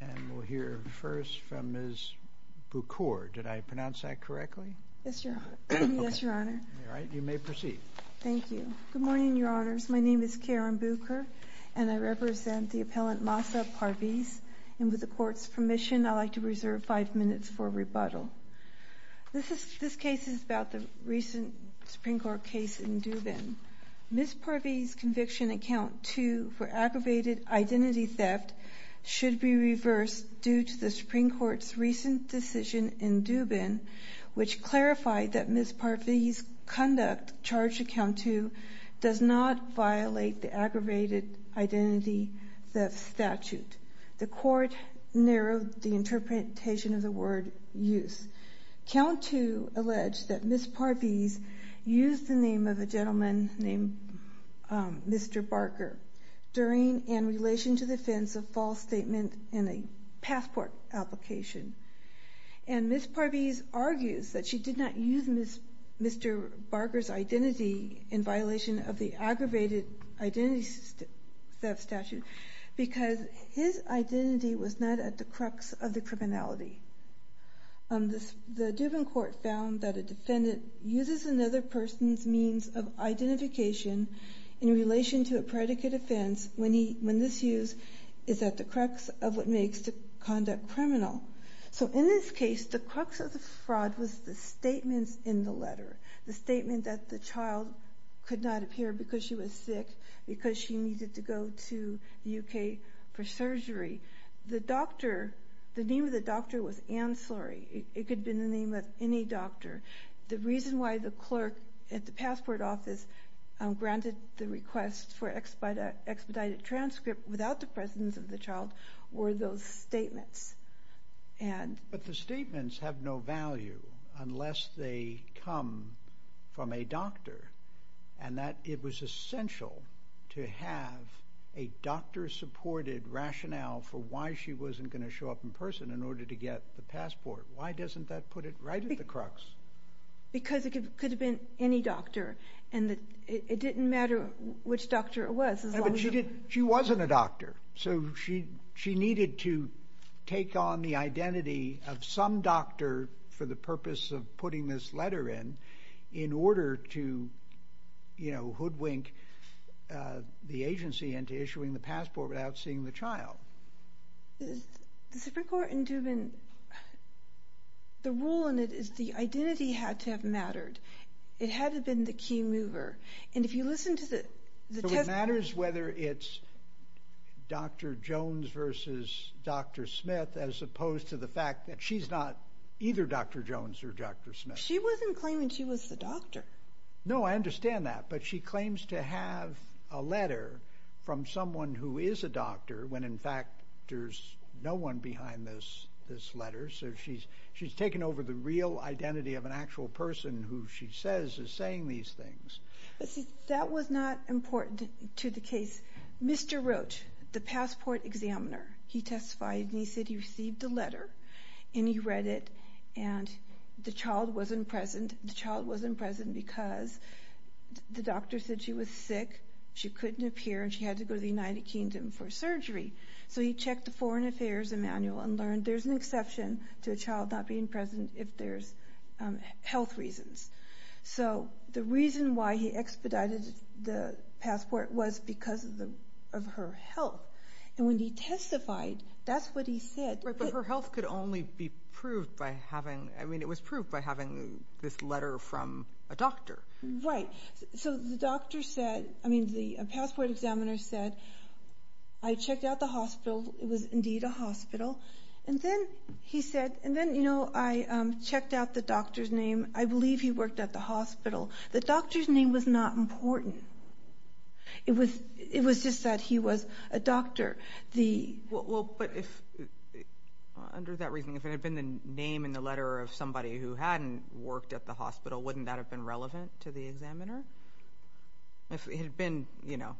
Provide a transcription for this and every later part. And we'll hear first from Ms. Bukur. Did I pronounce that correctly? Yes, your honor. All right, you may proceed. Thank you. Good morning, your honors. My name is Karen Bukur, and I represent the appellant Mahsa Parviz, and with the court's permission, I'd like to reserve five minutes for rebuttal. This case is about the recent Supreme Court case in Dubin. Ms. Parviz's conviction at count two for aggravated identity theft should be reversed due to the Supreme Court's recent decision in Dubin, which clarified that Ms. Parviz's conduct charged at count two does not violate the aggravated identity theft statute. The court narrowed the interpretation of the word use. Count two alleged that Ms. Parviz used the name of a gentleman named Mr. Barker in relation to the offensive false statement in a passport application. And Ms. Parviz argues that she did not use Mr. Barker's identity in violation of the aggravated identity theft statute because his identity was not at the point that a defendant uses another person's means of identification in relation to a predicate offense when this use is at the crux of what makes the conduct criminal. So in this case, the crux of the fraud was the statements in the letter, the statement that the child could not appear because she was sick, because she needed to go to the UK for surgery. The name of the doctor was in the name of any doctor. The reason why the clerk at the passport office granted the request for expedited transcript without the presence of the child were those statements. But the statements have no value unless they come from a doctor, and that it was essential to have a doctor-supported rationale for why she wasn't going to show up in person in order to get the right at the crux. Because it could have been any doctor, and it didn't matter which doctor it was. But she wasn't a doctor, so she needed to take on the identity of some doctor for the purpose of putting this letter in, in order to, you know, hoodwink the agency into issuing the passport without seeing the child. The Supreme Court in Dubin, the rule in it is the identity had to have mattered. It had to have been the key mover, and if you listen to the... So it matters whether it's Dr. Jones versus Dr. Smith as opposed to the fact that she's not either Dr. Jones or Dr. Smith. She wasn't claiming she was the doctor. No, I when in fact there's no one behind this this letter, so she's she's taken over the real identity of an actual person who she says is saying these things. That was not important to the case. Mr. Roach, the passport examiner, he testified and he said he received a letter, and he read it, and the child wasn't present. The child wasn't present because the doctor said she was sick, she couldn't appear, and she had to go to the United Kingdom for surgery. So he checked the Foreign Affairs manual and learned there's an exception to a child not being present if there's health reasons. So the reason why he expedited the passport was because of the of her health, and when he testified, that's what he said. But her health could only be proved by having, I mean, it was proved by having this letter from a doctor. Right. So the doctor said, I mean, the passport examiner said, I checked out the hospital, it was indeed a hospital, and then he said, and then, you know, I checked out the doctor's name. I believe he worked at the hospital. The doctor's name was not important. It was it was just that he was a doctor. Well, but if under that reasoning, if it had been the name in the letter of hospital, wouldn't that have been relevant to the examiner? If it had been, you know,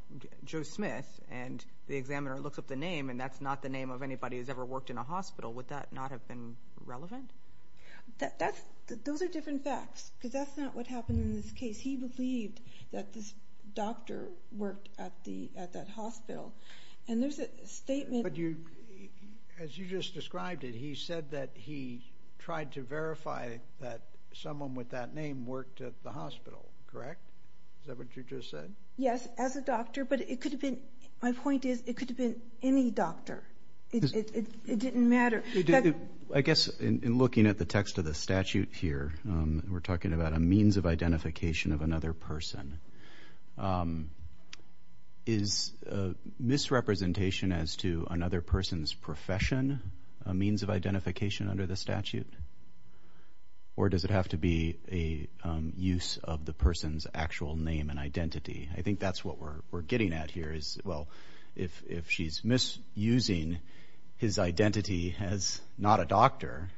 Joe Smith, and the examiner looks up the name, and that's not the name of anybody who's ever worked in a hospital, would that not have been relevant? That's, those are different facts, because that's not what happened in this case. He believed that this doctor worked at the, at that hospital, and there's a statement. But you, as you just described it, he said that he tried to verify that someone with that name worked at the hospital, correct? Is that what you just said? Yes, as a doctor, but it could have been, my point is, it could have been any doctor. It didn't matter. I guess in looking at the text of the statute here, we're talking about a means of identification of another person. Is misrepresentation as to another person's profession a means of identification under the statute, or does it have to be a use of the person's actual name and identity? I think that's what we're getting at here, is, well, if she's misusing his identity as not a doctor,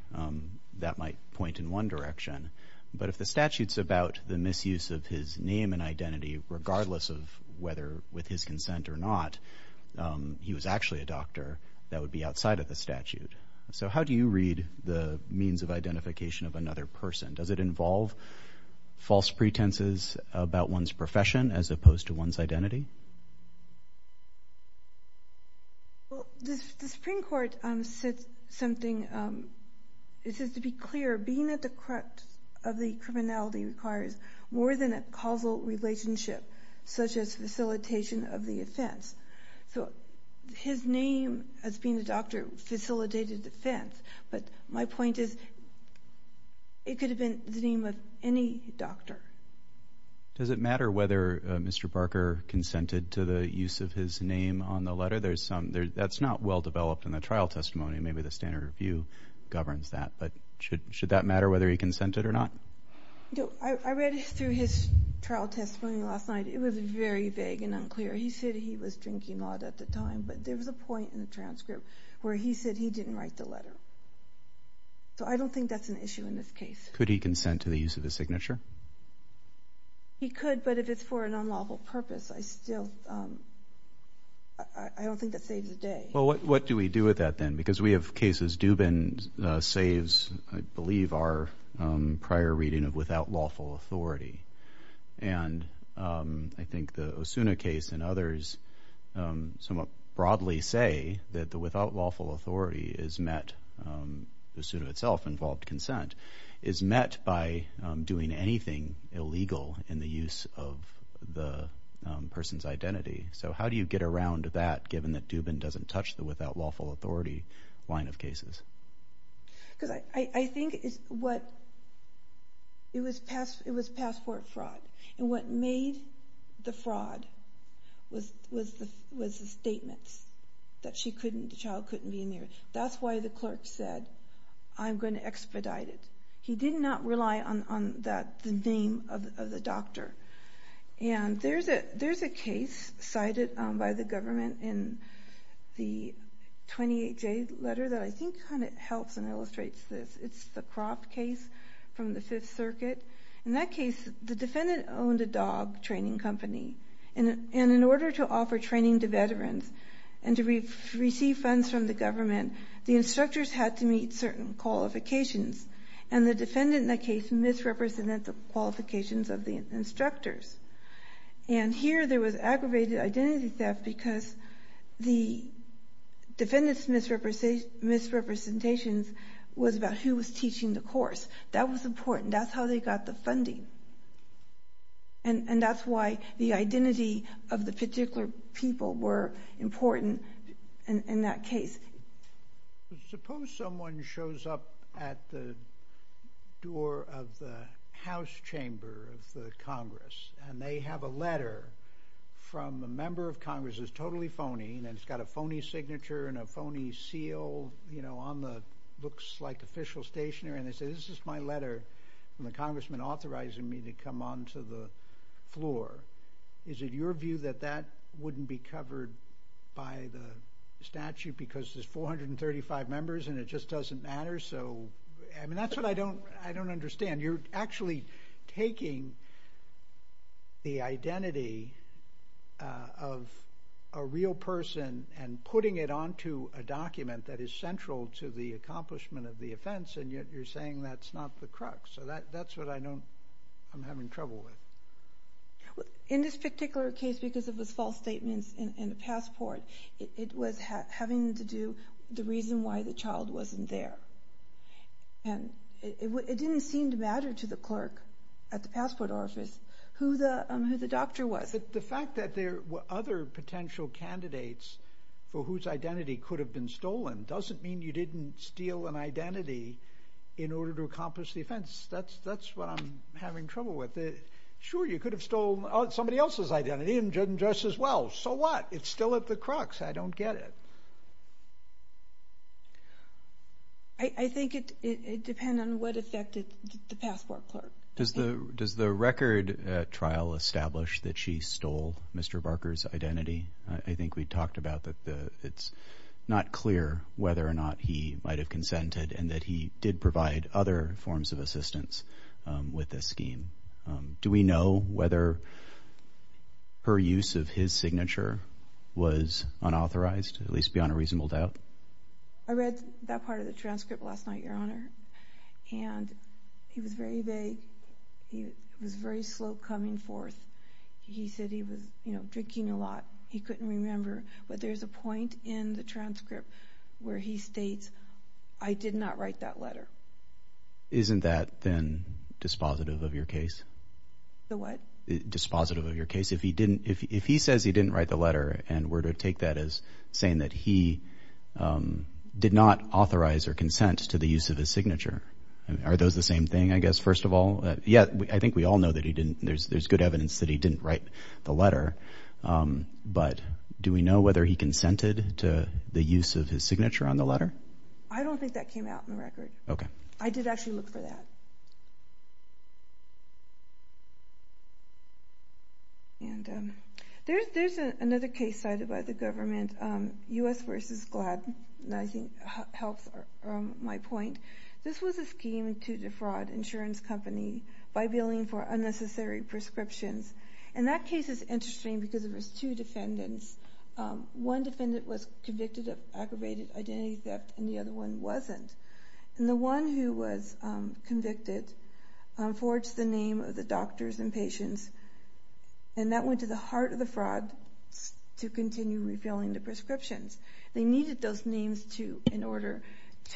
that might point in one direction. But if the statute's about the misuse of his name and identity, regardless of whether with his consent or not, he was actually a doctor, that would be outside of the statute. So how do you read the means of identification of another person? Does it involve false pretenses about one's profession as opposed to one's identity? The Supreme Court said something, it says to be clear, being at the crux of the criminality requires more than a causal relationship, such as facilitation of the offense. So his name as being a doctor facilitated the offense, but my point is, it could have been the name of any doctor. Does it matter whether Mr. Parker consented to the use of his name on the letter? That's not well developed in the trial testimony, maybe the standard review governs that, but should that matter whether he consented or not? I read through his trial testimony last night, it was very vague and unclear. He said he was drinking a lot at the time, but there was a point in the transcript where he said he didn't think that's an issue in this case. Could he consent to the use of the signature? He could, but if it's for an unlawful purpose, I still, I don't think that saves the day. Well, what do we do with that then? Because we have cases, Dubin saves, I believe, our prior reading of without lawful authority, and I think the Osuna case and others somewhat broadly say that the without lawful authority is met, the suit of itself involved consent, is met by doing anything illegal in the use of the person's identity. So how do you get around that, given that Dubin doesn't touch the without lawful authority line of cases? Because I think it's what, it was passport fraud, and what made the fraud was the statements that she couldn't, the child couldn't be interviewed. That's why the clerk said, I'm going to expedite it. He did not rely on that, the name of the doctor, and there's a case cited by the government in the 28-J letter that I think kind of helps and illustrates this. It's the crop case from the Fifth Circuit. In that case, the defendant owned a dog training company, and in order to offer training to veterans and to receive funds from the government, the instructors had to meet certain qualifications, and the defendant in that case misrepresented the qualifications of the instructors, and here there was aggravated identity theft because the defendant's misrepresentations was about who was teaching the course. That was important. That's how they got the funding, and that's why the case. Suppose someone shows up at the door of the House chamber of the Congress, and they have a letter from the member of Congress that's totally phony, and it's got a phony signature and a phony seal, you know, on the looks like official stationery, and they say, this is my letter from the congressman authorizing me to come on to the floor. Is it your view that that wouldn't be because there's 435 members, and it just doesn't matter? So, I mean, that's what I don't understand. You're actually taking the identity of a real person and putting it onto a document that is central to the accomplishment of the offense, and yet you're saying that's not the crux, so that's what I know I'm having trouble with. In this particular case, because it was false statements in the passport, it was having to do with the reason why the child wasn't there, and it didn't seem to matter to the clerk at the passport office who the doctor was. But the fact that there were other potential candidates for whose identity could have been stolen doesn't mean you didn't steal an identity in order to accomplish the offense. That's what I'm having trouble with. Sure, you could have stolen somebody else's identity and dress as well. So what? It's still at the crux. I don't get it. I think it depends on what affected the passport clerk. Does the record trial establish that she stole Mr. Barker's identity? I think we talked about that it's not clear whether or not he might have consented and that he did provide other forms of assistance with this scheme. Do we know whether her use of his signature was unauthorized, at least beyond a reasonable doubt? I read that part of the transcript last night, Your Honor, and he was very vague. He was very slow coming forth. He said he was, you know, drinking a lot. He couldn't remember, but there's a point in the transcript where he states, I did not write that letter. Isn't that then dispositive of your case? The what? Dispositive of your case. If he didn't, if he says he didn't write the letter and were to take that as saying that he did not authorize or consent to the use of his signature, are those the same thing, I guess, first of all? Yeah, I think we all know that he didn't. There's good evidence that he didn't write the letter, but do we know whether he consented to the use of his signature on the letter? I don't think that came out in the record. Okay. I did actually look for that. And there's another case cited by the government, U.S. versus GLAD, and I think it helps my point. This was a scheme to defraud an insurance company by billing for unnecessary prescriptions, and that case is interesting because it was two defendants. One defendant was convicted of aggravated identity theft and the other one wasn't. And the one who was convicted forged the name of the doctors and patients, and that went to the heart of the fraud to continue refilling the prescriptions. They needed those names in order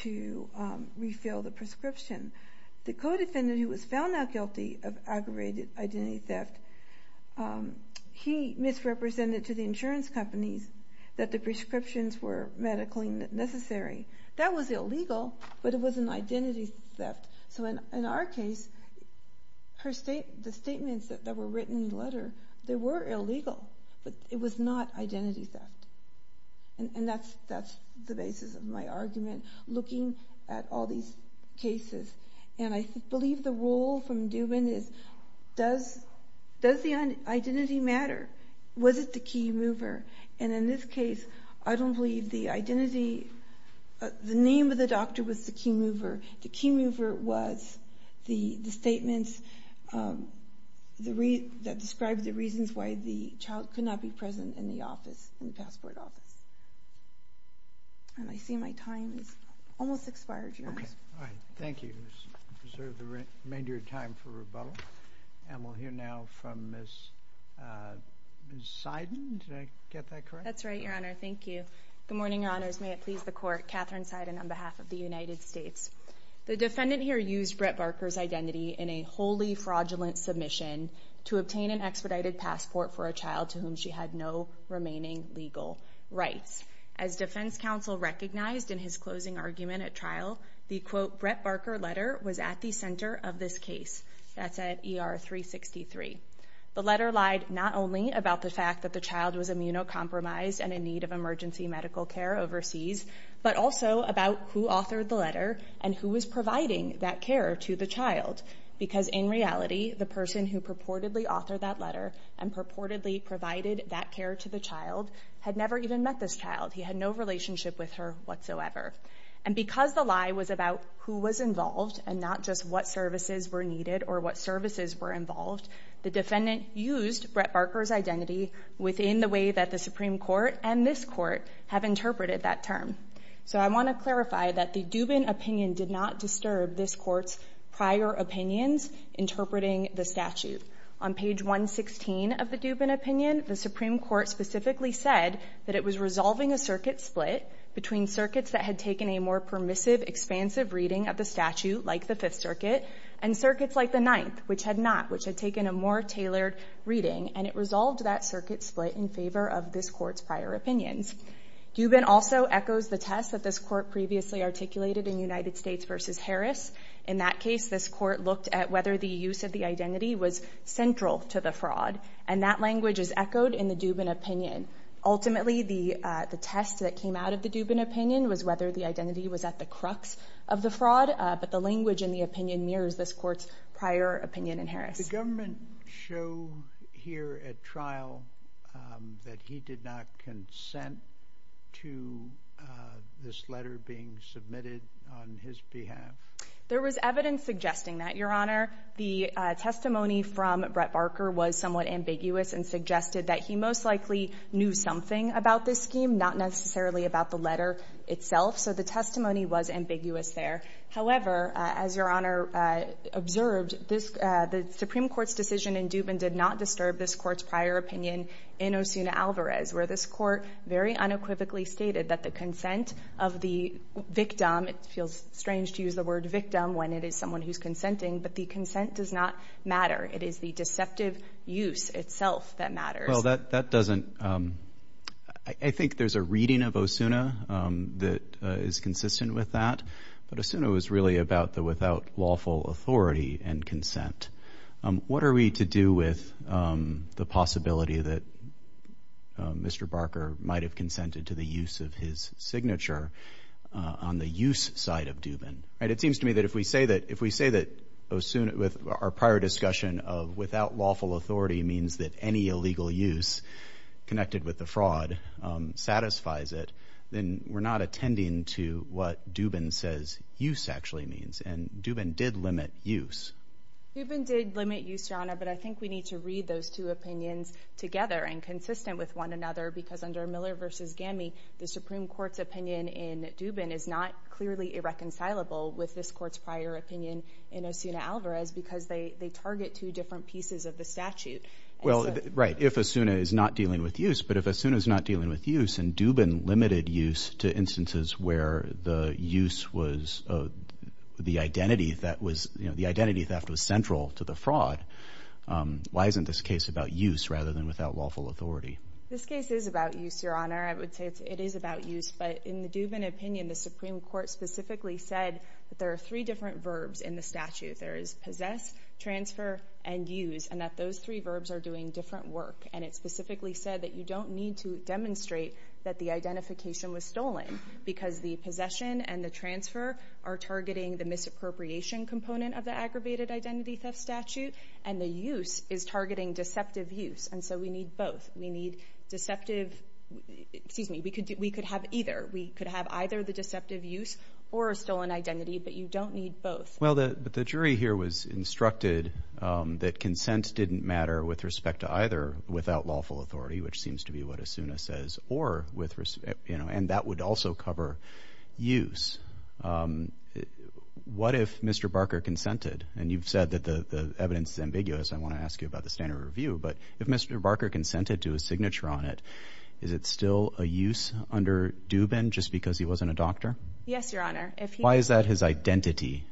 to refill the prescription. The co-defendant who was found not guilty of aggravated identity theft, he misrepresented to the insurance companies that the was illegal, but it was an identity theft. So in our case, the statements that were written in the letter, they were illegal, but it was not identity theft. And that's the basis of my argument, looking at all these cases. And I believe the rule from Dubin is, does the identity matter? Was it the key mover? And in this case, I don't believe the identity, the name of the doctor was the key mover. The key mover was the statements that described the reasons why the child could not be present in the office, in the passport office. And I see my time has almost expired, Your Honor. Okay, all right. Thank you. Let's reserve the remainder of your time for rebuttal, and we'll hear now from Ms. Seiden. Did I get that correct? That's right, Your Honor. Thank you. Good morning, Your Honors. May it please the Court. Catherine Seiden on behalf of the United States. The defendant here used Brett Barker's identity in a wholly fraudulent submission to obtain an expedited passport for a child to whom she had no remaining legal rights. As Defense Counsel recognized in his closing argument at trial, the, quote, Brett Barker letter was at the center of this The letter lied not only about the fact that the child was immunocompromised and in need of emergency medical care overseas, but also about who authored the letter and who was providing that care to the child. Because in reality, the person who purportedly authored that letter and purportedly provided that care to the child had never even met this child. He had no relationship with her whatsoever. And because the lie was about who was involved and not just what services were involved, the defendant used Brett Barker's identity within the way that the Supreme Court and this Court have interpreted that term. So I want to clarify that the Dubin opinion did not disturb this Court's prior opinions interpreting the statute. On page 116 of the Dubin opinion, the Supreme Court specifically said that it was resolving a circuit split between circuits that had taken a more permissive, expansive reading of the which had not, which had taken a more tailored reading, and it resolved that circuit split in favor of this Court's prior opinions. Dubin also echoes the test that this Court previously articulated in United States v. Harris. In that case, this Court looked at whether the use of the identity was central to the fraud, and that language is echoed in the Dubin opinion. Ultimately, the test that came out of the Dubin opinion was whether the identity was at the crux of the fraud, but the language in the opinion mirrors this Court's prior opinion in Harris. The government show here at trial that he did not consent to this letter being submitted on his behalf. There was evidence suggesting that, Your Honor. The testimony from Brett Barker was somewhat ambiguous and suggested that he most likely knew something about this scheme, not necessarily about the letter itself. So the testimony was ambiguous there. However, as Your Honor observed, the Supreme Court's decision in Dubin did not disturb this Court's prior opinion in Osuna Alvarez, where this Court very unequivocally stated that the consent of the victim, it feels strange to use the word victim when it is someone who's consenting, but the consent does not matter. It is the deceptive use itself that matters. Well, that doesn't... I think there's a reading of Osuna that is consistent with that, but Osuna was really about the without lawful authority and consent. What are we to do with the possibility that Mr. Barker might have consented to the use of his signature on the use side of Dubin? Right, it seems to me that if we say that, if we say that Osuna, with our prior discussion of without lawful authority means that any illegal use connected with the fraud satisfies it, then we're not attending to what Dubin says use actually means, and Dubin did limit use. Dubin did limit use, Your Honor, but I think we need to read those two opinions together and consistent with one another, because under Miller v. Gammy, the Supreme Court's opinion in Dubin is not clearly irreconcilable with this Court's prior opinion in Osuna Alvarez, because they target two different pieces of the statute. Well, right, if Osuna is not dealing with use, but if Osuna is not dealing with use, and Dubin limited use to instances where the use was the identity that was, you know, the identity theft was central to the fraud, why isn't this case about use rather than without lawful authority? This case is about use, Your Honor. I would say it is about use, but in the Dubin opinion, the Supreme Court specifically said that there are three different verbs in the statute. There is possess, transfer, and use, and that those three verbs are doing different work, and it specifically said that you don't need to demonstrate that the identification was stolen, because the possession and the transfer are targeting the misappropriation component of the aggravated identity theft statute, and the use is targeting deceptive use, and so we need both. We need deceptive, excuse me, we could have either. We could have either the deceptive use or a stolen identity, but you don't need both. Well, the jury here was instructed that consent didn't matter with respect to either without lawful authority, which seems to be what Asuna says, or with respect, you know, and that would also cover use. What if Mr. Barker consented, and you've said that the evidence is ambiguous, I want to ask you about the standard review, but if Mr. Barker consented to a signature on it, is it still a use under Dubin just because he wasn't a doctor? Yes, Your Honor. Why is that his identity?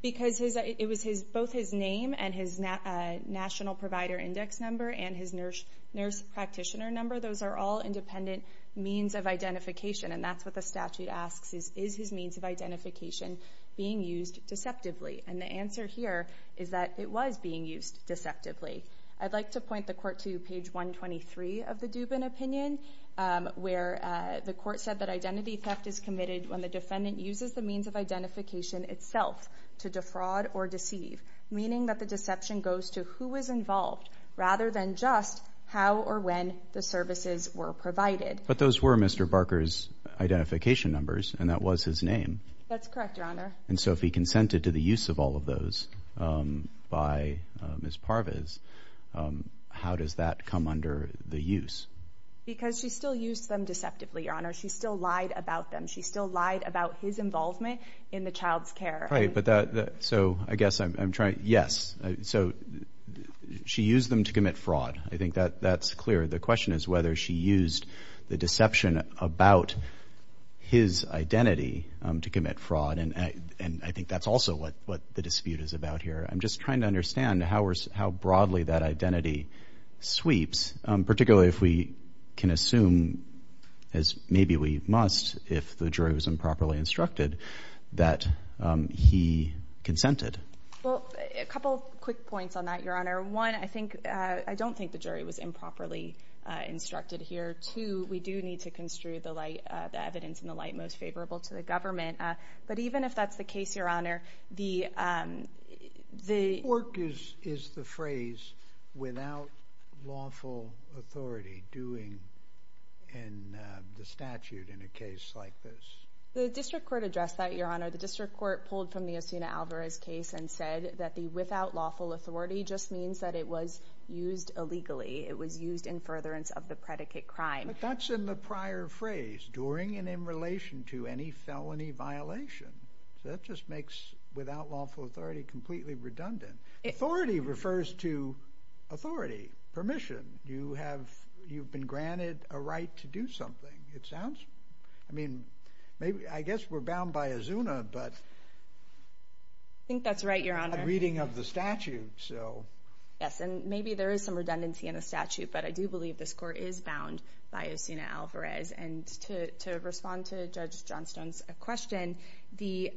Because it was both his name and his national provider index number, and his nurse practitioner number, those are all independent means of identification, and that's what the statute asks is, is his means of identification being used deceptively? And the answer here is that it was being used deceptively. I'd like to point the court to page 123 of the Dubin opinion, where the court said that identity theft is committed when the defendant uses the means of identification itself to defraud or to defraud the person involved, rather than just how or when the services were provided. But those were Mr. Barker's identification numbers, and that was his name. That's correct, Your Honor. And so if he consented to the use of all of those by Ms. Parvez, how does that come under the use? Because she still used them deceptively, Your Honor. She still lied about them. She still lied about his involvement in the child's care. Right, but that, so I guess I'm trying, yes. So she used them to commit fraud. I think that that's clear. The question is whether she used the deception about his identity to commit fraud, and I think that's also what the dispute is about here. I'm just trying to understand how broadly that identity sweeps, particularly if we can assume, as maybe we must if the jury was improperly instructed, that he consented. Well, a couple quick points on that, Your Honor. One, I think, I don't think the jury was improperly instructed here. Two, we do need to construe the light, the evidence in the light most favorable to the government. But even if that's the case, Your Honor, the, the... Fork is the phrase, without lawful authority, doing in the statute in a case like this. The District Court addressed that, Your Honor. The District Court pulled from the Osuna Alvarez case and said that the without lawful authority just means that it was used illegally. It was used in furtherance of the predicate crime. But that's in the prior phrase, during and in relation to any felony violation. That just makes without lawful authority completely redundant. Authority refers to authority, permission. You have, you've been granted a right to do something. It sounds, I mean, maybe, I guess we're bound by Osuna, but... I think that's right, Your Honor. Reading of the statute, so... Yes, and maybe there is some redundancy in the statute, but I do believe this court is bound by Osuna Alvarez. And to, to respond to Judge Johnstone's question, the...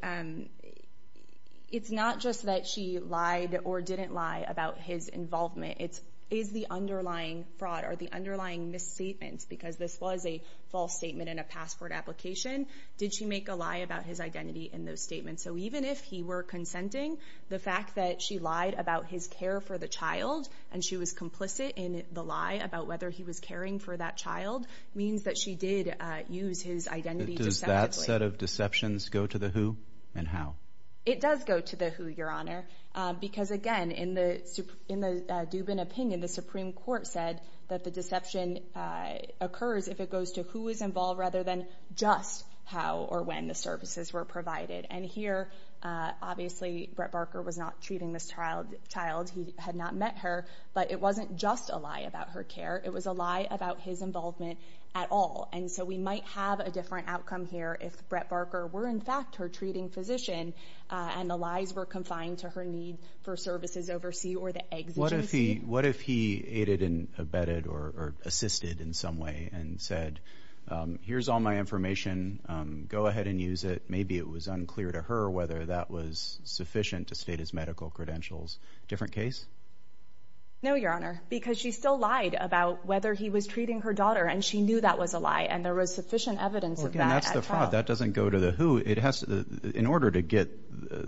It's not just that she lied or didn't lie about his involvement. It's, is the underlying fraud or the underlying misstatements, because this was a false statement in a passport application, did she make a lie about his identity in those statements? So even if he were consenting, the fact that she lied about his care for the child, and she was complicit in the lie about whether he was caring for that child, means that she did use his identity deceptively. Does that set of deceptions go to the who and how? It does go to the who, Your Honor, because again, in the, in the Dubin opinion, the Supreme Court said that the deception occurs if it goes to who is involved rather than just how or when the services were provided. And here, obviously, Brett Barker was not treating this child, child who had not met her, but it wasn't just a lie about her care. It was a lie about his identity. And so we might have a different outcome here if Brett Barker were, in fact, her treating physician, and the lies were confined to her need for services oversee or the exegesis. What if he, what if he aided and abetted or assisted in some way and said, here's all my information, go ahead and use it. Maybe it was unclear to her whether that was sufficient to state his medical credentials. Different case? No, Your Honor, because she still lied about whether he was treating her daughter, and she knew that was a lie, and there was sufficient evidence of that. That's the fraud. That doesn't go to the who. It has, in order to get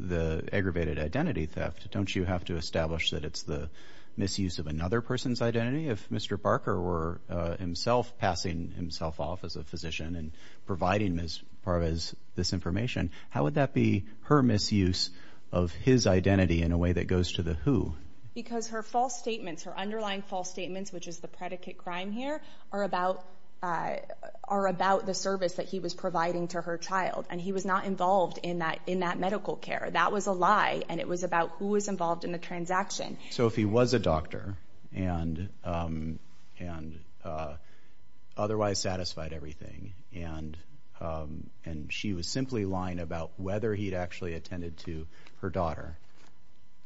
the aggravated identity theft, don't you have to establish that it's the misuse of another person's identity? If Mr. Barker were himself passing himself off as a physician and providing Ms. Parvez this information, how would that be her misuse of his identity in a way that goes to the who? Because her false statements, her underlying false statements, which is the predicate crime here, are about the service that he was providing to her child, and he was not involved in that medical care. That was a lie, and it was about who was involved in the transaction. So if he was a doctor and otherwise satisfied everything, and she was simply lying about whether he'd actually attended to her daughter,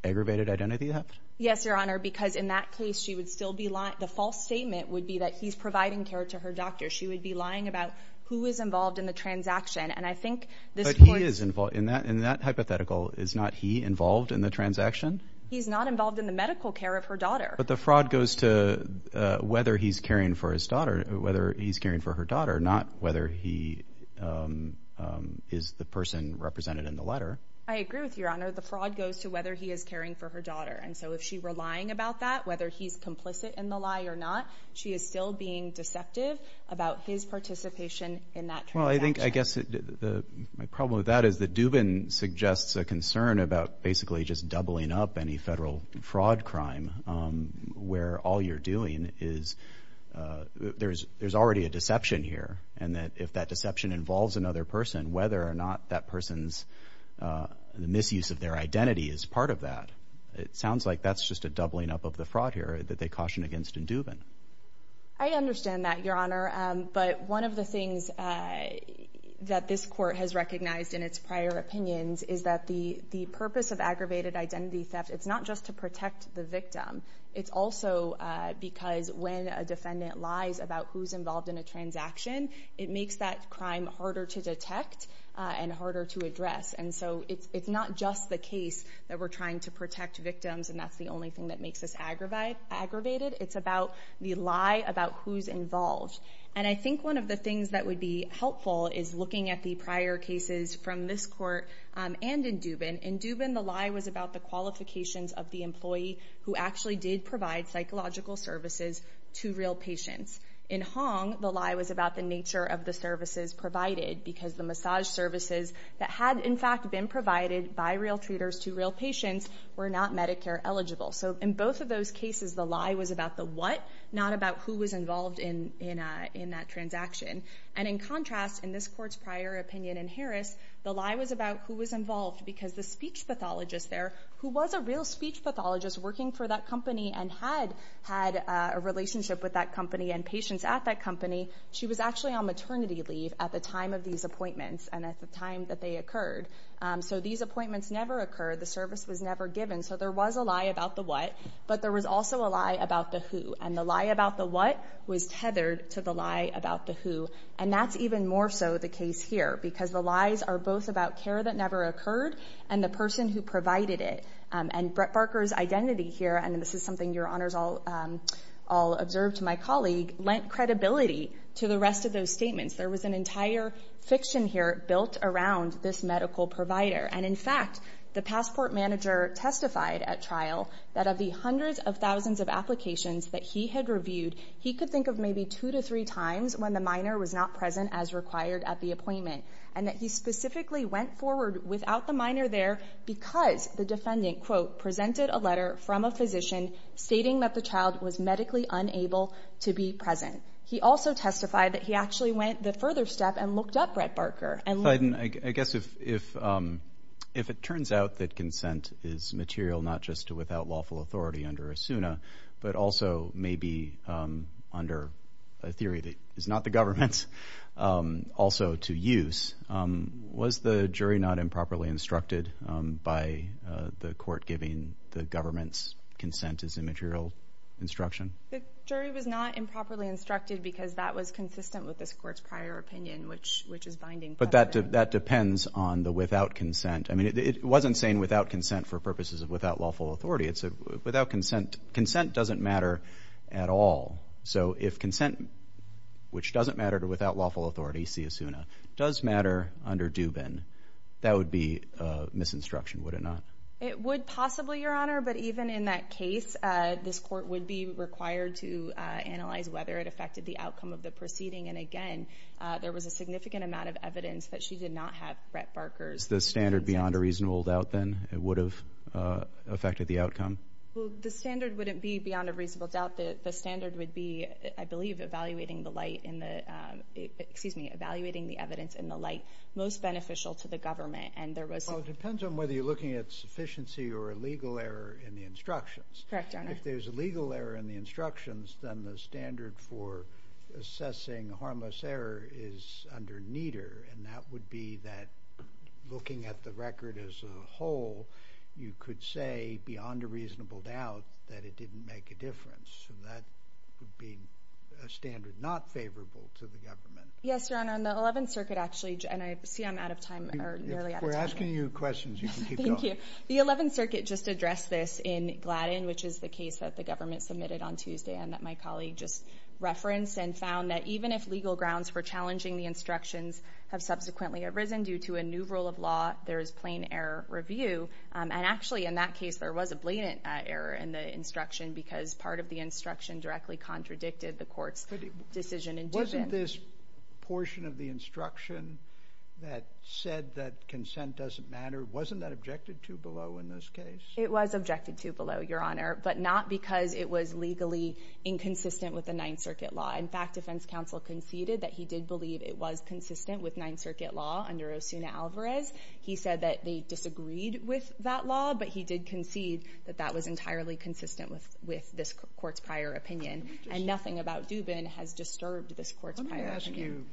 aggravated identity theft? Yes, Your Honor. The false statement would be that he's providing care to her doctor. She would be lying about who is involved in the transaction, and I think this... But he is involved. In that hypothetical, is not he involved in the transaction? He's not involved in the medical care of her daughter. But the fraud goes to whether he's caring for his daughter, whether he's caring for her daughter, not whether he is the person represented in the letter. I agree with you, Your Honor. The fraud goes to whether he is caring for her daughter. And so if she were lying about that, whether he's complicit in the lie or not, she is still being deceptive about his participation in that transaction. Well, I think, I guess, my problem with that is that Dubin suggests a concern about basically just doubling up any federal fraud crime, where all you're doing is... There's already a deception here, and that if that deception involves another person, whether or not that person's... The misuse of their identity is part of that. It sounds like that's just a doubling up of the fraud here that they caution against in Dubin. I understand that, Your Honor. But one of the things that this court has recognized in its prior opinions is that the purpose of aggravated identity theft, it's not just to protect the victim. It's also because when a defendant lies about who's involved in a transaction, it makes that crime harder to detect and harder to address. And so it's not just the case that we're trying to protect victims, and that's the only thing that makes us aggravated. It's about the lie about who's involved. And I think one of the things that would be helpful is looking at the prior cases from this court and in Dubin. In Dubin, the lie was about the qualifications of the employee who actually did provide psychological services to real patients. In Hong, the lie was about the nature of the services provided because the massage services that had, in fact, been provided by real treaters to real patients were not Medicare eligible. So in both of those cases, the lie was about the what, not about who was involved in that transaction. And in contrast, in this court's prior opinion in Harris, the lie was about who was involved because the speech pathologist there, who was a real speech pathologist working for that company and had had a relationship with that company and patients at that company, she was actually on maternity leave at the time of these appointments and at the time that they occurred. So these appointments never occurred. The service was never given. So there was a lie about the what, but there was also a lie about the who. And the lie about the what was tethered to the lie about the who. And that's even more so the case here because the lies are both about care that never occurred and the person who provided it. And Brett Barker's identity here, and this is something your honors all observed to my colleague, lent credibility to the fiction here built around this medical provider. And in fact, the passport manager testified at trial that of the hundreds of thousands of applications that he had reviewed, he could think of maybe two to three times when the minor was not present as required at the appointment, and that he specifically went forward without the minor there because the defendant, quote, presented a letter from a physician stating that the child was medically unable to be present. He also testified that he actually went the up Brett Barker. I guess if it turns out that consent is material, not just to without lawful authority under Asuna, but also maybe under a theory that is not the government's also to use, was the jury not improperly instructed by the court giving the government's consent as immaterial instruction? The jury was not improperly instructed because that was consistent with this court's prior opinion, which is binding. But that depends on the without consent. I mean, it wasn't saying without consent for purposes of without lawful authority. It's a without consent. Consent doesn't matter at all. So if consent, which doesn't matter to without lawful authority, see Asuna, does matter under Dubin, that would be misinstruction, would it not? It would possibly, your honor, but even in that case, this court would be required to analyze whether it affected the outcome of the proceeding. And again, there was a significant amount of evidence that she did not have Brett Barker's... Is the standard beyond a reasonable doubt, then, it would have affected the outcome? Well, the standard wouldn't be beyond a reasonable doubt. The standard would be, I believe, evaluating the light in the... Excuse me, evaluating the evidence in the light most beneficial to the government. And there was... Well, it depends on whether you're looking at sufficiency or a legal error in the instructions. Correct, your honor. If there's a legal error in the instructions, then the standard for is under neater, and that would be that looking at the record as a whole, you could say, beyond a reasonable doubt, that it didn't make a difference. So that would be a standard not favorable to the government. Yes, your honor. And the 11th Circuit actually... And I see I'm out of time, or nearly out of time. If we're asking you questions, you can keep going. Thank you. The 11th Circuit just addressed this in Gladden, which is the case that the government submitted on Tuesday and that my colleague just referenced and found that even if legal grounds for challenging the instructions have subsequently arisen due to a new rule of law, there is plain error review. And actually, in that case, there was a blatant error in the instruction because part of the instruction directly contradicted the court's decision in Dubin. Wasn't this portion of the instruction that said that consent doesn't matter, wasn't that objected to below in this case? It was objected to below, your honor, but not because it was legally inconsistent with the 9th Circuit law. In fact, defense counsel conceded that he did believe it was consistent with 9th Circuit law under Osuna Alvarez. He said that they disagreed with that law, but he did concede that that was entirely consistent with this court's prior opinion. And nothing about Dubin has disturbed this court's prior opinion. Let me ask you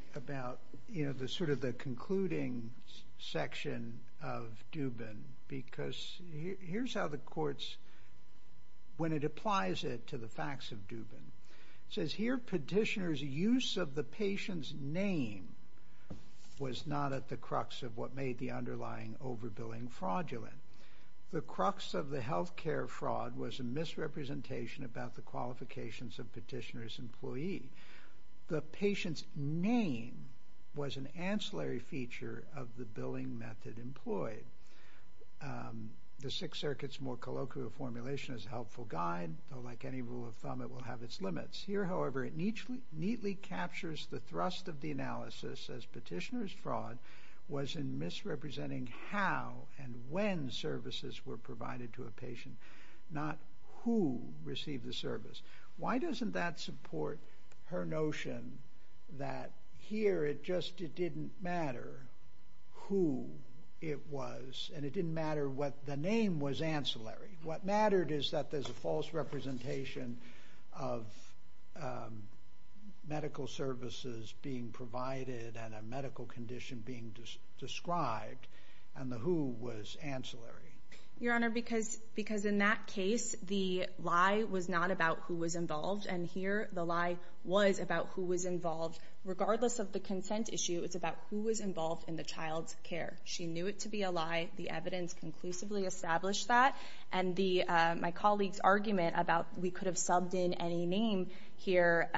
about the concluding section of Dubin because here's how the courts, when it applies it to the facts of Dubin, it says here, petitioner's use of the patient's name was not at the crux of what made the underlying overbilling fraudulent. The crux of the healthcare fraud was a misrepresentation about the qualifications of petitioner's employee. The patient's name was an ancillary feature of the billing method employed. The Sixth Circuit's more colloquial formulation is a helpful guide, though like any rule of thumb, it will have its limits. Here, however, it neatly captures the thrust of the analysis as petitioner's fraud was in misrepresenting how and when services were provided to a patient, not who received the service. Why doesn't that support her notion that here it just... It didn't matter who it was and it didn't matter what the name was ancillary. What mattered is that there's a false representation of medical services being provided and a medical condition being described and the who was ancillary. Your honor, because in that case, the lie was not about who was involved and here the lie was about who was involved. Regardless of the consent issue, it's about who was involved in the child's care. She knew it to be a lie. The evidence conclusively established that and my colleague's argument about we could have subbed in any name here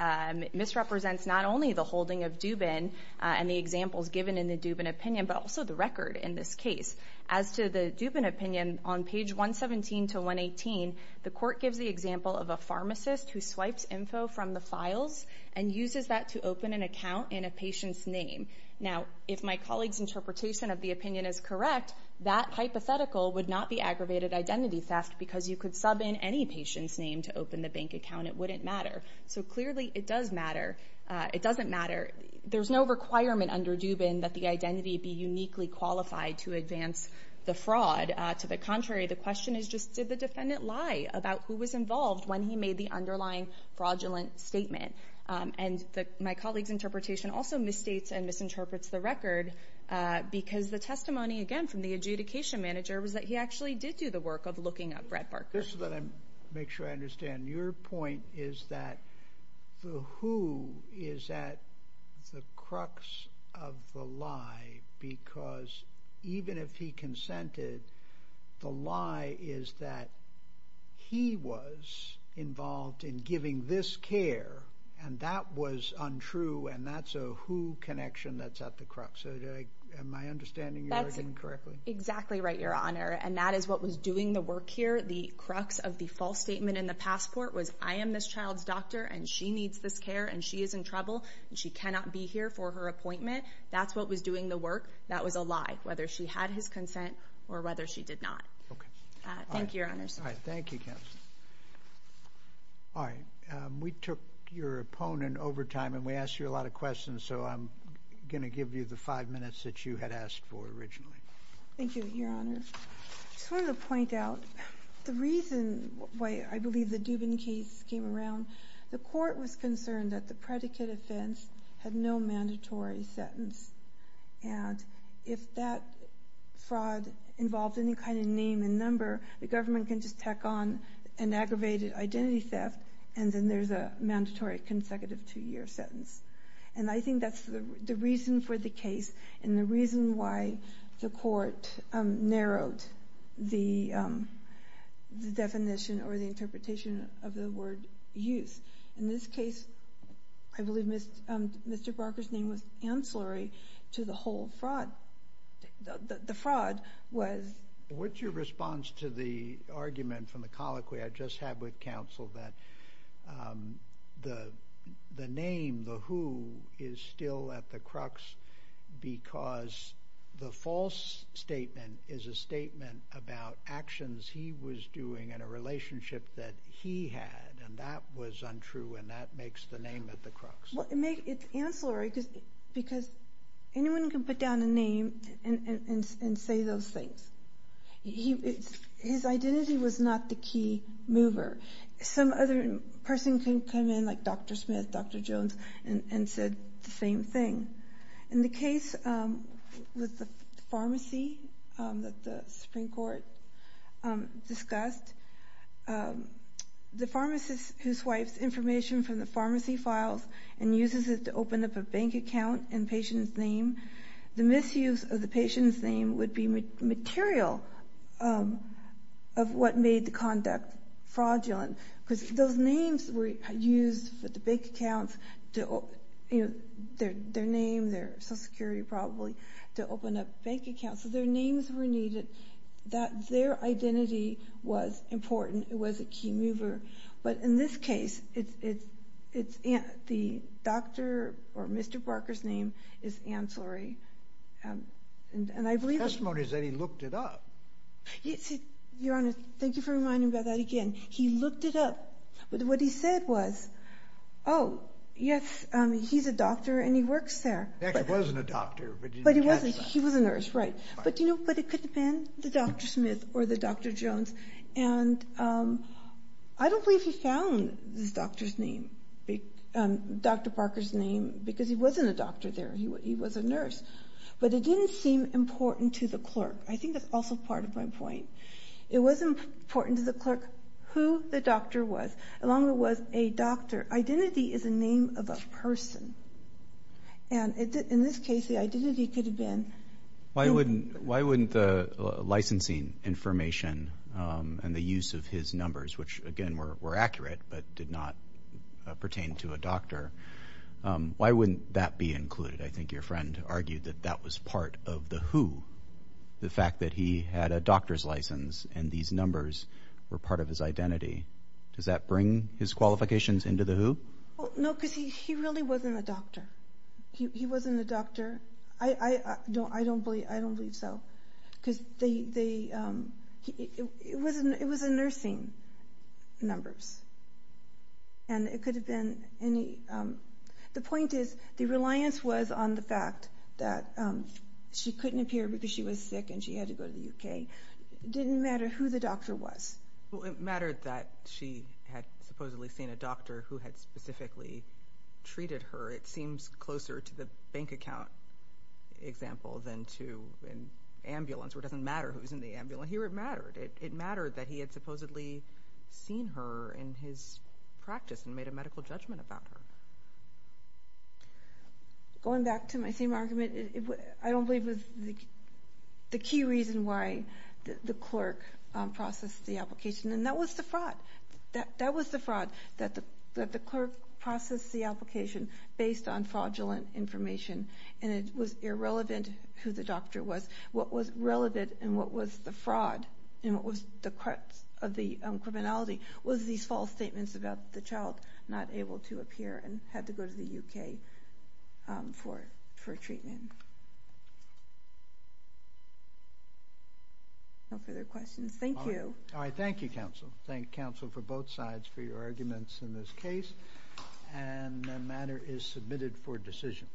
misrepresents not only the holding of Dubin and the examples given in the Dubin opinion, but also the record in this case. As to the Dubin opinion, on page 117 to 118, the court gives the example of a pharmacist who swipes info from the files and uses that to open an account in a patient's name. Now, if my colleague's interpretation of the opinion is correct, that hypothetical would not be aggravated identity theft because you could sub in any patient's name to open the bank account. It wouldn't matter. So clearly, it does matter. It doesn't matter. There's no requirement under Dubin that the identity be uniquely qualified to advance the fraud. To the contrary, the question is just did the defendant lie about who was involved when he made the underlying fraudulent statement? And my colleague's interpretation also misstates and misinterprets the record because the testimony, again, from the adjudication manager was that he actually did do the work of looking up Brett Barker. Just so that I make sure I understand, your point is that the who is at the crux of the lie because even if he consented, the lie is that he was involved in giving this care and that was untrue and that's a who connection that's at the crux. Am I understanding you correctly? That's exactly right, your honor. And that is what was doing the work here. The crux of the false statement in the passport was I am this child's doctor and she needs this care and she is in trouble and she cannot be here for her appointment. That's what was doing the work. That was a lie, whether she had his consent or whether she did not. Okay. Thank you, your honor. All right. Thank you. All right. We took your opponent over time and we asked you a lot of questions, so I'm gonna give you the five minutes that you had asked for originally. Thank you, your honor. I just wanted to point out the reason why I believe the Dubin case came around. The court was concerned that the predicate offense had no mandatory sentence and if that fraud involved any kind of name and number, the government can just tack on an aggravated identity theft and then there's a mandatory consecutive two year sentence. And I think that's the reason for the case and the reason why the court narrowed the definition or the interpretation of the word use. In this case, I believe Mr. Barker's name was ancillary to the whole fraud, the fraud was... What's your response to the argument from the colloquy I just had with counsel that the name, the who, is still at the crux because the false statement is a statement about actions he was doing in a relationship that he had and that was untrue and that makes the name at the end and say those things. His identity was not the key mover. Some other person can come in like Dr. Smith, Dr. Jones, and said the same thing. In the case with the pharmacy that the Supreme Court discussed, the pharmacist who swipes information from the pharmacy files and misuse of the patient's name would be material of what made the conduct fraudulent because those names were used for the bank accounts, their name, their social security probably, to open up bank accounts, so their names were needed, that their identity was important, it was a key mover. But in this case, the doctor or Mr. Barker's name is ancillary and I believe... The testimony is that he looked it up. Your Honor, thank you for reminding me about that again. He looked it up, but what he said was, oh, yes, he's a doctor and he works there. He wasn't a doctor, but he was a nurse, right. But it could have been the Dr. Smith or the Dr. Jones and I don't believe he found this doctor's name, Dr. Barker's name because he wasn't a doctor there, he was a nurse. But it didn't seem important to the clerk. I think that's also part of my point. It wasn't important to the clerk who the doctor was, as long as it was a doctor. Identity is a name of a person. And in this case, the identity could have been... Why wouldn't the licensing information and the use of his numbers, which again were accurate but did not pertain to a doctor, why wouldn't that be included? I think your friend argued that that was part of the who, the fact that he had a doctor's license and these numbers were part of his identity. Does that bring his qualifications into the who? No, because he really wasn't a doctor. He wasn't a doctor. I don't believe so. It was a nursing numbers. And it could have been any... The point is, the reliance was on the fact that she couldn't appear because she was sick and she had to go to the UK. It didn't matter who the doctor was. Well, it mattered that she had supposedly seen a doctor who had specifically treated her. It seems closer to the bank account example than to an ambulance, where it doesn't matter who's in the ambulance. Here it mattered. It mattered that he had supposedly seen her in his practice and made a medical judgment about her. Going back to my same argument, I don't believe it was the key reason why the clerk processed the application, and that was the fraud. That was the fraud, that the clerk processed the application based on fraudulent information, and it was irrelevant who the doctor was. What was relevant and what was the fraud and what was the crux of the criminality was these false statements about the child not able to appear and had to go to the UK for treatment. No further questions. Thank you. Alright. Thank you, counsel. Thank counsel for both sides for your arguments in this case, and the matter is submitted for decision.